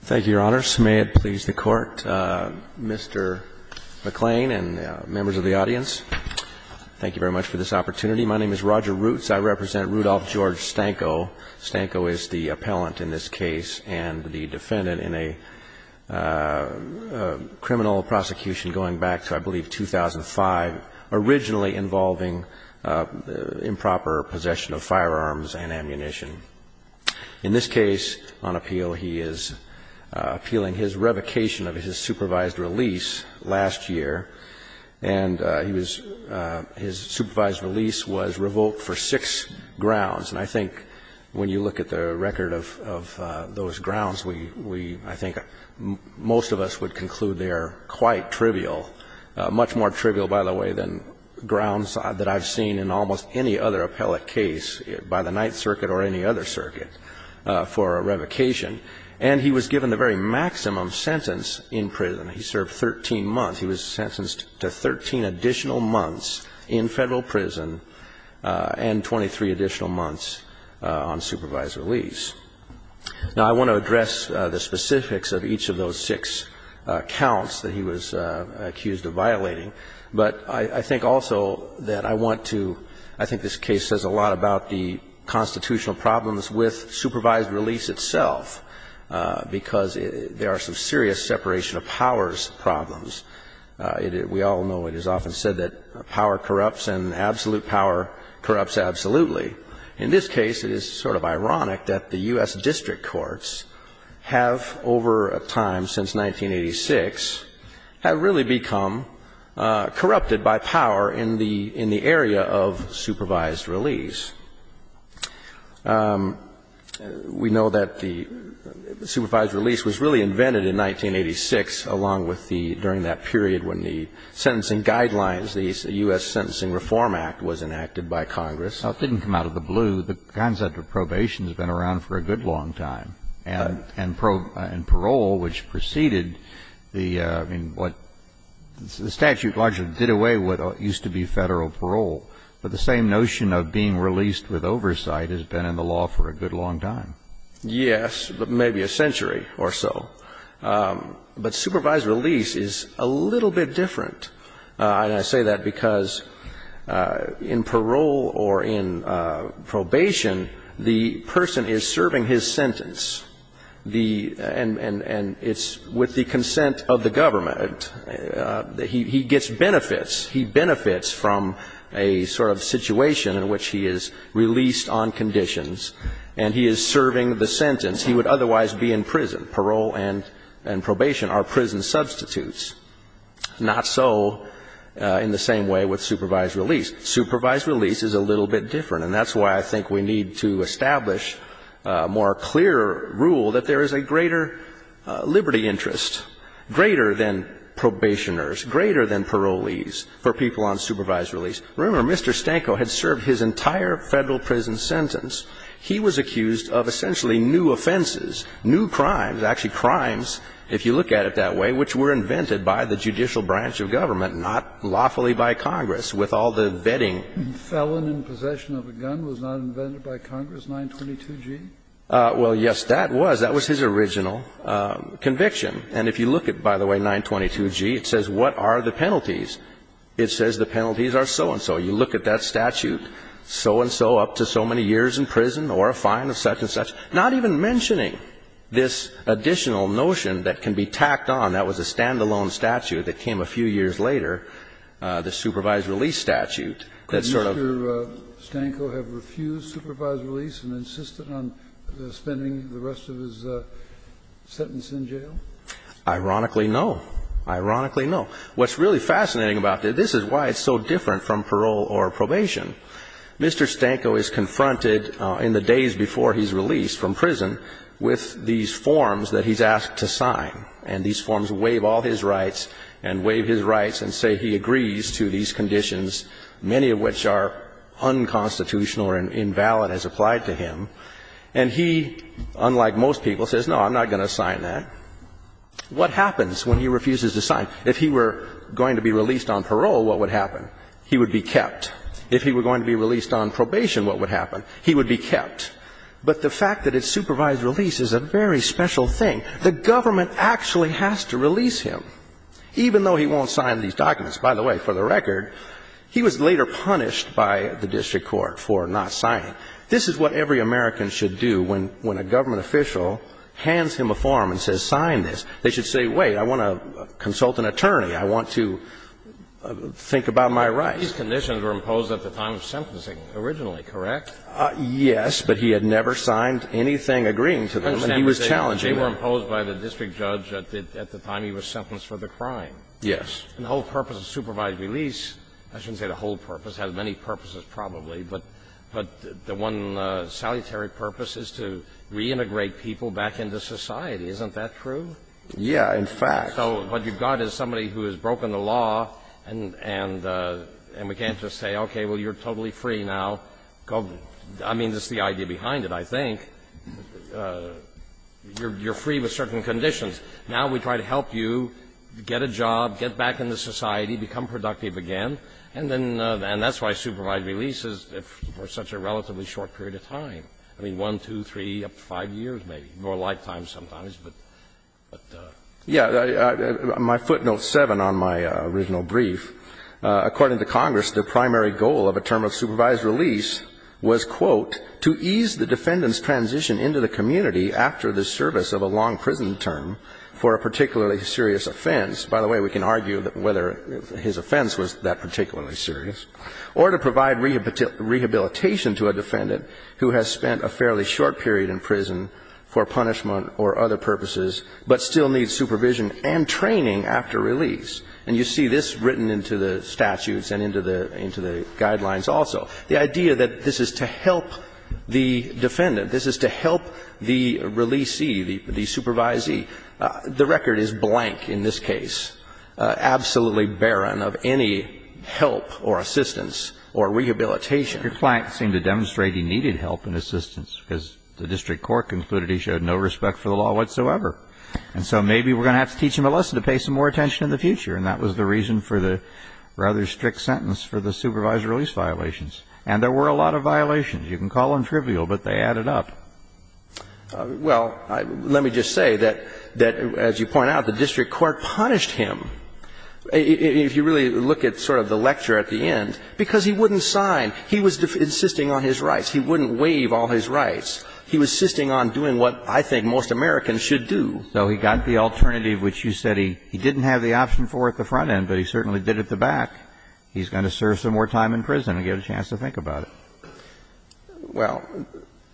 Thank you, Your Honors. May it please the Court, Mr. McClain and members of the audience, thank you very much for this opportunity. My name is Roger Roots. I represent Rudolph George Stanko. Stanko is the appellant in this case and the defendant in a criminal prosecution going back to, I believe, 2005, originally involving improper possession of firearms and ammunition. In this case on appeal, he is appealing his revocation of his supervised release last year, and his supervised release was revoked for six grounds. And I think when you look at the record of those grounds, I think most of us would conclude they are quite trivial, much more trivial, by the way, than grounds that I've seen in almost any other appellate case, by the Ninth Circuit or any other circuit, for a revocation. And he was given the very maximum sentence in prison. He served 13 months. He was sentenced to 13 additional months in Federal prison and 23 additional months on supervised release. Now, I want to address the specifics of each of those six counts that he was accused of violating, but I think also that I want to – I think this case says a lot about the constitutional problems with supervised release itself, because there are some serious separation of powers problems. We all know it is often said that power corrupts and absolute power corrupts absolutely. In this case, it is sort of ironic that the U.S. district courts have, over a time since 1986, have really become corrupted by power in the area of supervised release. We know that the supervised release was really invented in 1986, along with the – during that period when the sentencing guidelines, the U.S. Sentencing Reform Act was enacted by Congress. Now, it didn't come out of the blue. The concept of probation has been around for a good long time. Right. And parole, which preceded the – I mean, what – the statute largely did away with what used to be Federal parole. But the same notion of being released with oversight has been in the law for a good long time. Yes, but maybe a century or so. But supervised release is a little bit different. And I say that because in parole or in probation, the person is serving his sentence, the – and it's with the consent of the government. He gets benefits. He benefits from a sort of situation in which he is released on conditions, and he is serving the sentence. He would otherwise be in prison. Parole and probation are prison substitutes. Not so in the same way with supervised release. Supervised release is a little bit different. And that's why I think we need to establish a more clear rule that there is a greater liberty interest, greater than probationers, greater than parolees for people on supervised release. Remember, Mr. Stanko had served his entire Federal prison sentence. He was accused of essentially new offenses, new crimes, actually crimes, if you look at it that way, which were invented by the judicial branch of government, not lawfully by Congress with all the vetting. Felon in possession of a gun was not invented by Congress, 922G? Well, yes, that was. That was his original conviction. And if you look at, by the way, 922G, it says what are the penalties. It says the penalties are so-and-so. You look at that statute, so-and-so up to so many years in prison or a fine of such and such, not even mentioning this additional notion that can be tacked on, that was a standalone statute that came a few years later, the supervised release statute that sort of ---- Could Mr. Stanko have refused supervised release and insisted on spending the rest of his sentence in jail? Ironically, no. Ironically, no. What's really fascinating about it, this is why it's so different from parole or probation. Mr. Stanko is confronted in the days before he's released from prison with these forms that he's asked to sign. And these forms waive all his rights and waive his rights and say he agrees to these conditions, many of which are unconstitutional or invalid as applied to him. And he, unlike most people, says, no, I'm not going to sign that. What happens when he refuses to sign? If he were going to be released on parole, what would happen? He would be kept. If he were going to be released on probation, what would happen? He would be kept. But the fact that it's supervised release is a very special thing. The government actually has to release him, even though he won't sign these documents. By the way, for the record, he was later punished by the district court for not signing. This is what every American should do when a government official hands him a form and says sign this. They should say, wait, I want to consult an attorney. I want to think about my rights. These conditions were imposed at the time of sentencing originally, correct? Yes, but he had never signed anything agreeing to them. And he was challenged. They were imposed by the district judge at the time he was sentenced for the crime. Yes. And the whole purpose of supervised release, I shouldn't say the whole purpose, it has many purposes probably, but the one salutary purpose is to reintegrate people back into society. Isn't that true? Yeah, in fact. In fact, what you've got is somebody who has broken the law and we can't just say, okay, well, you're totally free now. I mean, that's the idea behind it, I think. You're free with certain conditions. Now we try to help you get a job, get back into society, become productive again. And that's why supervised release is for such a relatively short period of time. I mean, 1, 2, 3, up to 5 years maybe, more like time sometimes. Yeah. My footnote 7 on my original brief. According to Congress, the primary goal of a term of supervised release was, quote, to ease the defendant's transition into the community after the service of a long prison term for a particularly serious offense. By the way, we can argue whether his offense was that particularly serious. Or to provide rehabilitation to a defendant who has spent a fairly short period in prison for punishment or other purposes, but still needs supervision and training after release. And you see this written into the statutes and into the guidelines also. The idea that this is to help the defendant, this is to help the releasee, the supervisee, the record is blank in this case, absolutely barren of any help or assistance or rehabilitation. Your client seemed to demonstrate he needed help and assistance because the district court concluded he showed no respect for the law whatsoever. And so maybe we're going to have to teach him a lesson to pay some more attention in the future. And that was the reason for the rather strict sentence for the supervised release violations. And there were a lot of violations. You can call them trivial, but they added up. Well, let me just say that, as you point out, the district court punished him. If you really look at sort of the lecture at the end, because he wouldn't sign. He was insisting on his rights. He wouldn't waive all his rights. He was insisting on doing what I think most Americans should do. So he got the alternative, which you said he didn't have the option for at the front end, but he certainly did at the back. He's going to serve some more time in prison and get a chance to think about it. Well.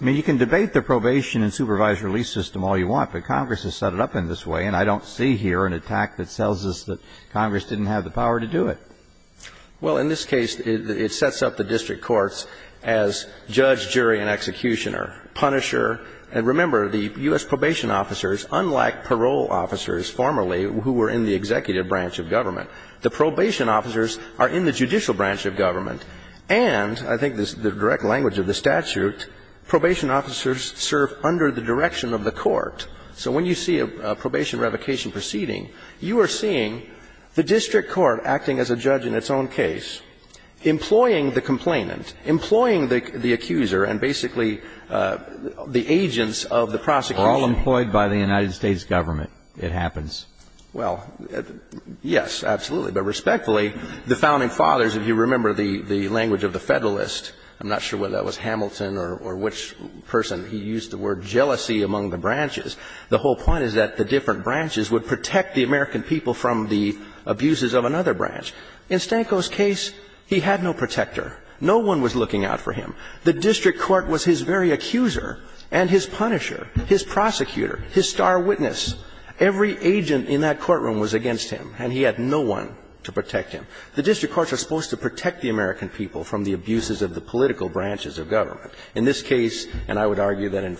I mean, you can debate the probation and supervised release system all you want, but Congress has set it up in this way, and I don't see here an attack that tells us that Congress didn't have the power to do it. Well, in this case, it sets up the district courts as judge, jury, and executioner, punisher. And remember, the U.S. probation officers, unlike parole officers formerly who were in the executive branch of government, the probation officers are in the judicial branch of government. And I think the direct language of the statute, probation officers serve under the direction of the court. So when you see a probation revocation proceeding, you are seeing the district court acting as a judge in its own case, employing the complainant, employing the accuser, and basically the agents of the prosecution. All employed by the United States government, it happens. Well, yes, absolutely. But respectfully, the founding fathers, if you remember the language of the Federalist, I'm not sure whether that was Hamilton or which person, he used the word jealousy among the branches. The whole point is that the different branches would protect the American people from the abuses of another branch. In Stanko's case, he had no protector. No one was looking out for him. The district court was his very accuser and his punisher, his prosecutor, his star witness. Every agent in that courtroom was against him, and he had no one to protect him. The district courts are supposed to protect the American people from the abuses of the political branches of government. In this case, and I would argue that in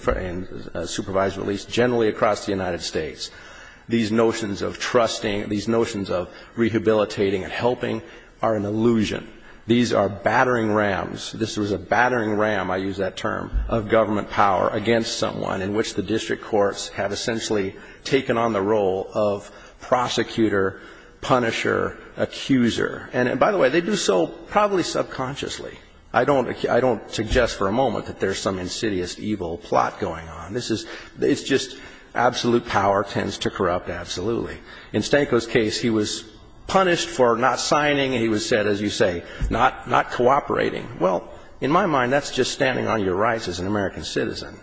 a supervised release, generally across the United States, these notions of trusting, these notions of rehabilitating and helping are an illusion. These are battering rams. This was a battering ram, I use that term, of government power against someone in which the district courts have essentially taken on the role of prosecutor, punisher, accuser. And by the way, they do so probably subconsciously. I don't suggest for a moment that there's some insidious evil plot going on. This is, it's just absolute power tends to corrupt absolutely. In Stanko's case, he was punished for not signing. He was said, as you say, not cooperating. Well, in my mind, that's just standing on your rights as an American citizen.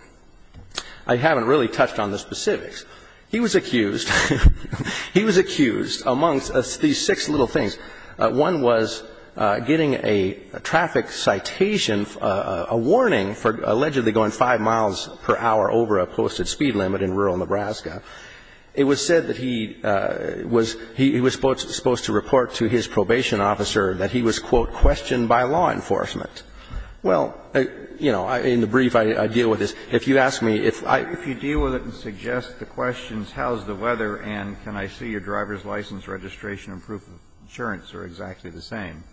I haven't really touched on the specifics. He was accused, he was accused amongst these six little things. One was getting a traffic citation, a warning for allegedly going 5 miles per hour over a posted speed limit in rural Nebraska. It was said that he was supposed to report to his probation officer that he was, quote, questioned by law enforcement. Well, you know, in the brief, I deal with this. If you ask me if I can. Kennedy. If you deal with it and suggest the questions, how's the weather and can I see your driver's license registration and proof of insurance are exactly the same?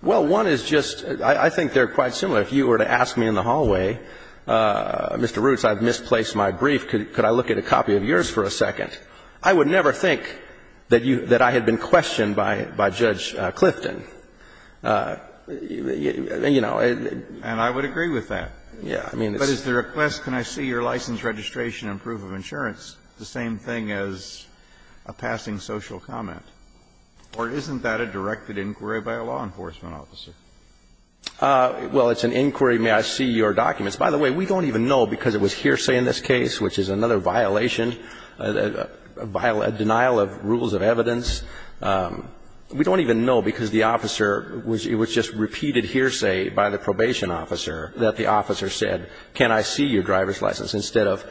Well, one is just, I think they're quite similar. If you were to ask me in the hallway, Mr. Roots, I've misplaced my brief. Could I look at a copy of yours for a second? I would never think that you, that I had been questioned by Judge Clifton. You know. And I would agree with that. Yeah. I mean. But is the request can I see your license registration and proof of insurance the same thing as a passing social comment, or isn't that a directed inquiry by a law enforcement officer? Well, it's an inquiry, may I see your documents. By the way, we don't even know because it was hearsay in this case, which is another violation, a denial of rules of evidence. We don't even know because the officer was, it was just repeated hearsay by the probation officer, that the officer said, can I see your driver's license instead of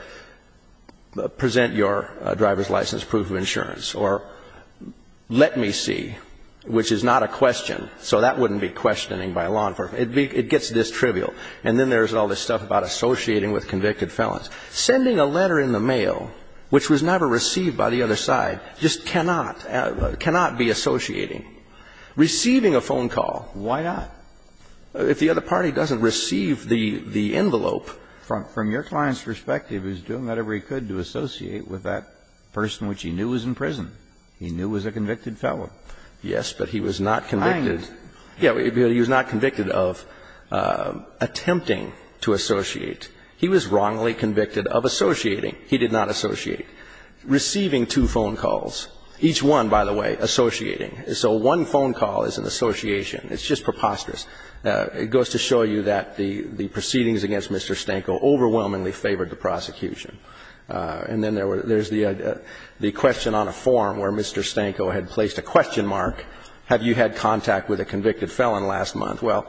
present your driver's license proof of insurance, or let me see, which is not a question. So that wouldn't be questioning by law enforcement. It gets this trivial. And then there's all this stuff about associating with convicted felons. Sending a letter in the mail, which was never received by the other side, just cannot, cannot be associating. Receiving a phone call, why not? If the other party doesn't receive the envelope. From your client's perspective, he was doing whatever he could to associate with that person which he knew was in prison, he knew was a convicted felon. Yes, but he was not convicted. He was not convicted of attempting to associate. He was wrongly convicted of associating. He did not associate. Receiving two phone calls, each one, by the way, associating. So one phone call is an association. It's just preposterous. It goes to show you that the proceedings against Mr. Stanko overwhelmingly favored the prosecution. And then there's the question on a form where Mr. Stanko had placed a question mark, have you had contact with a convicted felon last month. Well,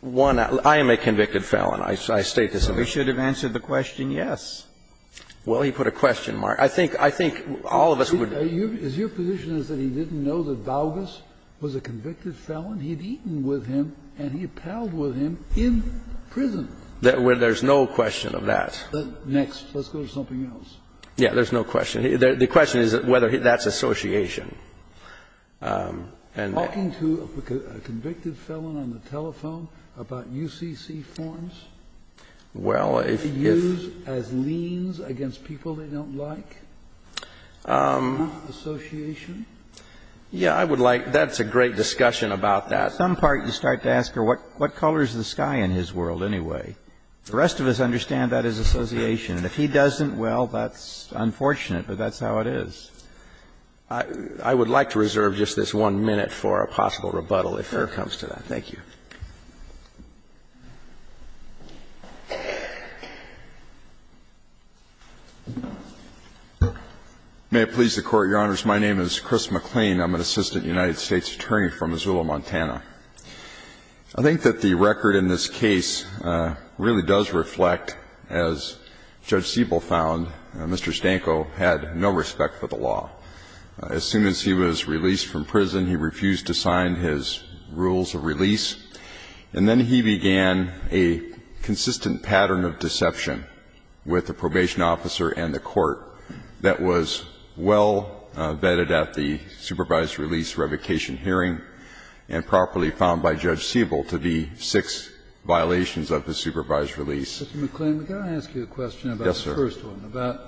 one, I am a convicted felon. I state this in my case. Kennedy, we should have answered the question yes. Well, he put a question mark. I think all of us would. Is your position is that he didn't know that Baugus was a convicted felon? He had eaten with him and he had palled with him in prison. There's no question of that. Next. Let's go to something else. Yes. There's no question. The question is whether that's association. Talking to a convicted felon on the telephone about UCC forms? Well, if you use as liens against people they don't like? Association? Yeah, I would like to. That's a great discussion about that. Some part you start to ask, what colors the sky in his world anyway? The rest of us understand that as association. If he doesn't, well, that's unfortunate, but that's how it is. I would like to reserve just this one minute for a possible rebuttal if there comes to that. Thank you. May it please the Court, Your Honors. My name is Chris McLean. I'm an assistant United States attorney from Missoula, Montana. I think that the record in this case really does reflect, as Judge Siebel found, Mr. Stanko had no respect for the law. As soon as he was released from prison, he refused to sign his rules of release and then he began a consistent pattern of deception with the probation officer and the court that was well vetted at the supervised release revocation hearing and properly found by Judge Siebel to be six violations of the supervised release. Mr. McLean, may I ask you a question about the first one? Yes, sir. About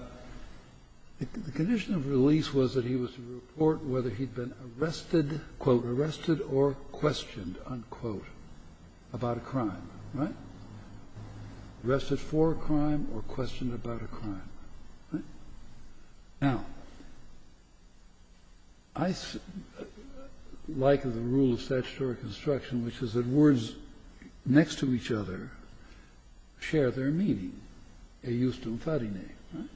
the condition of release was that he was to report whether he had been arrested or questioned, unquote, about a crime. Right? Arrested for a crime or questioned about a crime. Right? Now, I like the rule of statutory construction, which is that words next to each other share their meaning, a justum fati ne. Right?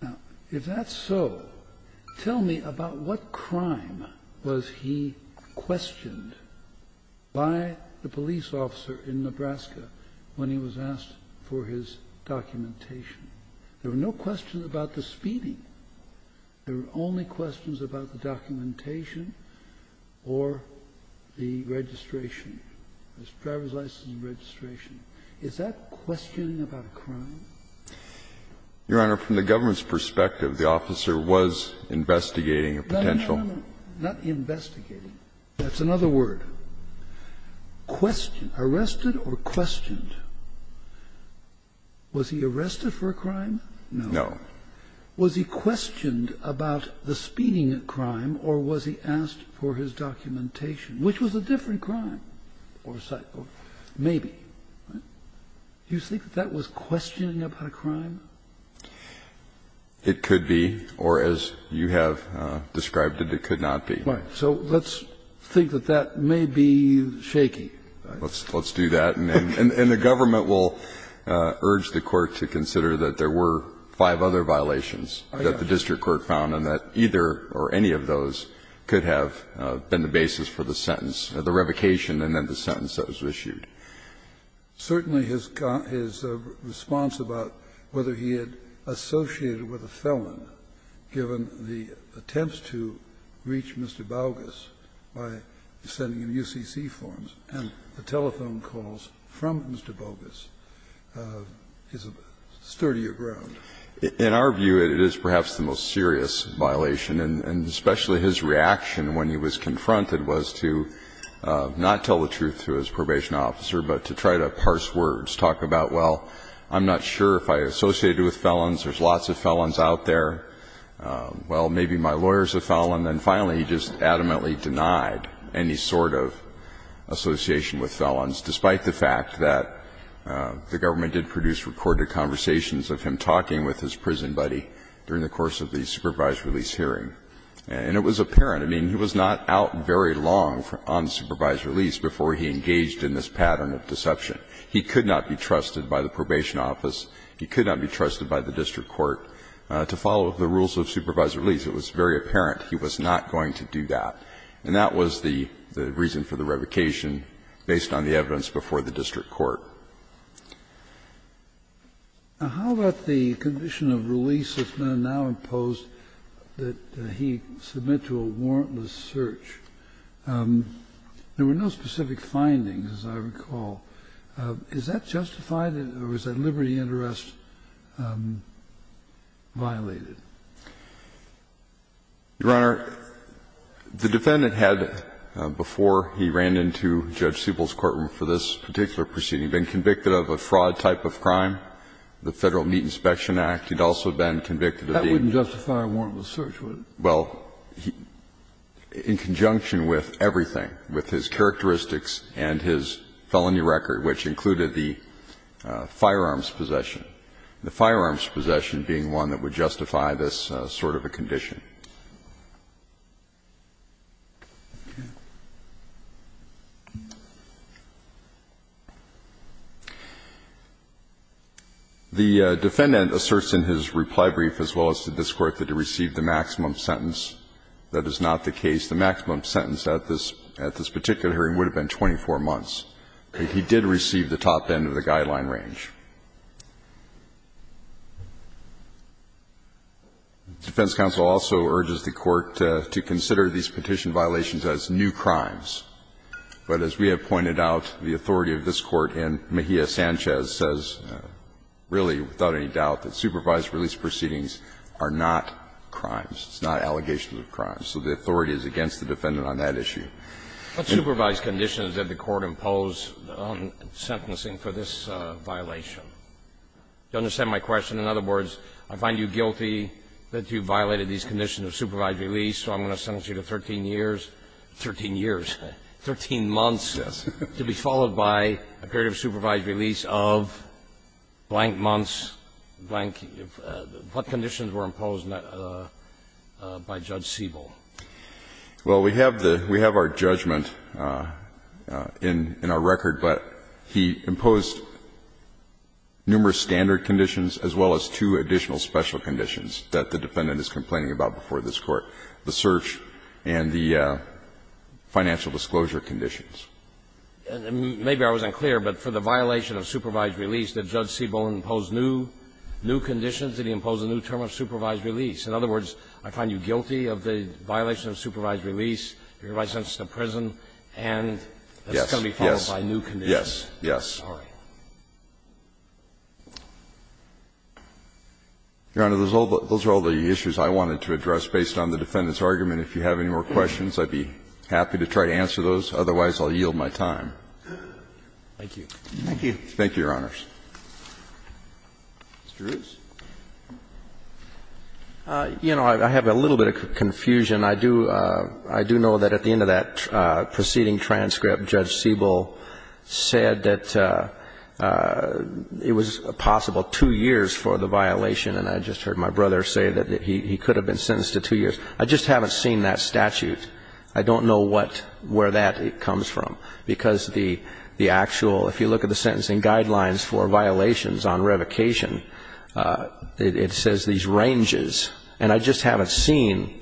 Now, if that's so, tell me about what crime was he questioned by the police officer in Nebraska when he was asked for his documentation. There were no questions about the speeding. There were only questions about the documentation or the registration, his driver's license and registration. Is that questioning about a crime? Your Honor, from the government's perspective, the officer was investigating a potential. No, no, no. Not investigating. That's another word. Questioned. Arrested or questioned. Was he arrested for a crime? No. No. Was he questioned about the speeding crime or was he asked for his documentation, which was a different crime? Maybe. Do you think that that was questioning about a crime? It could be, or as you have described it, it could not be. Right. So let's think that that may be shaky. Let's do that. And the government will urge the Court to consider that there were five other violations that the district court found and that either or any of those could have been the basis for the sentence, the revocation and then the sentence that was issued. Certainly his response about whether he had associated with a felon, given the attempts to reach Mr. Baugas by sending him UCC forms and the telephone calls from Mr. Baugas, is a sturdier ground. In our view, it is perhaps the most serious violation, and especially his reaction when he was confronted was to not tell the truth to his probation officer, but to try to parse words, talk about, well, I'm not sure if I associated with felons. There's lots of felons out there. Well, maybe my lawyers are felons. And finally, he just adamantly denied any sort of association with felons, despite the fact that the government did produce recorded conversations of him talking with his prison buddy during the course of the supervised release hearing. And it was apparent. I mean, he was not out very long on supervised release before he engaged in this pattern of deception. He could not be trusted by the probation office. He could not be trusted by the district court. To follow the rules of supervised release, it was very apparent he was not going to do that. And that was the reason for the revocation, based on the evidence before the district court. Kennedy. Now, how about the condition of release that's now imposed, that he submit to a warrantless search? There were no specific findings, as I recall. Is that justified? Or was that liberty and arrest violated? Your Honor, the defendant had, before he ran into Judge Siebel's courtroom for this particular proceeding, been convicted of a fraud type of crime. The Federal Meat Inspection Act. He'd also been convicted of being. That wouldn't justify a warrantless search, would it? Well, in conjunction with everything, with his characteristics and his felony record, which included the firearms possession, the firearms possession being one that would justify this sort of a condition. The defendant asserts in his reply brief, as well as to this Court, that he received the maximum sentence. That is not the case. The maximum sentence at this particular hearing would have been 24 months. But he did receive the top end of the guideline range. And he also urges the Court to consider these petition violations as new crimes. But as we have pointed out, the authority of this Court in Mejia Sanchez says, really, without any doubt, that supervised release proceedings are not crimes. It's not allegations of crimes. So the authority is against the defendant on that issue. What supervised conditions did the Court impose on sentencing for this violation? Do you understand my question? In other words, I find you guilty that you violated these conditions of supervised release, so I'm going to sentence you to 13 years, 13 years? Thirteen months. Yes. To be followed by a period of supervised release of blank months, blank. What conditions were imposed by Judge Siebel? Well, we have the we have our judgment in our record, but he imposed numerous standard conditions as well as two additional special conditions that the defendant is complaining about before this Court, the search and the financial disclosure conditions. Maybe I wasn't clear, but for the violation of supervised release, did Judge Siebel impose new conditions? Did he impose a new term of supervised release? In other words, I find you guilty of the violation of supervised release. You're going to be sentenced to prison and that's going to be followed by new conditions. Yes, yes. Your Honor, those are all the issues I wanted to address based on the defendant's argument. If you have any more questions, I'd be happy to try to answer those. Otherwise, I'll yield my time. Thank you. Thank you. Thank you, Your Honors. Mr. Roos? You know, I have a little bit of confusion. It was possible two years for the violation, and I just heard my brother say that he could have been sentenced to two years. I just haven't seen that statute. I don't know where that comes from, because the actual, if you look at the sentencing guidelines for violations on revocation, it says these ranges, and I just haven't seen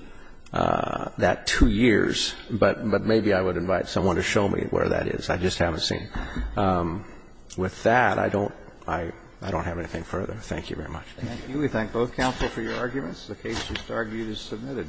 that two years. But maybe I would invite someone to show me where that is. I just haven't seen it. With that, I don't have anything further. Thank you very much. Thank you. We thank both counsel for your arguments. The case is submitted.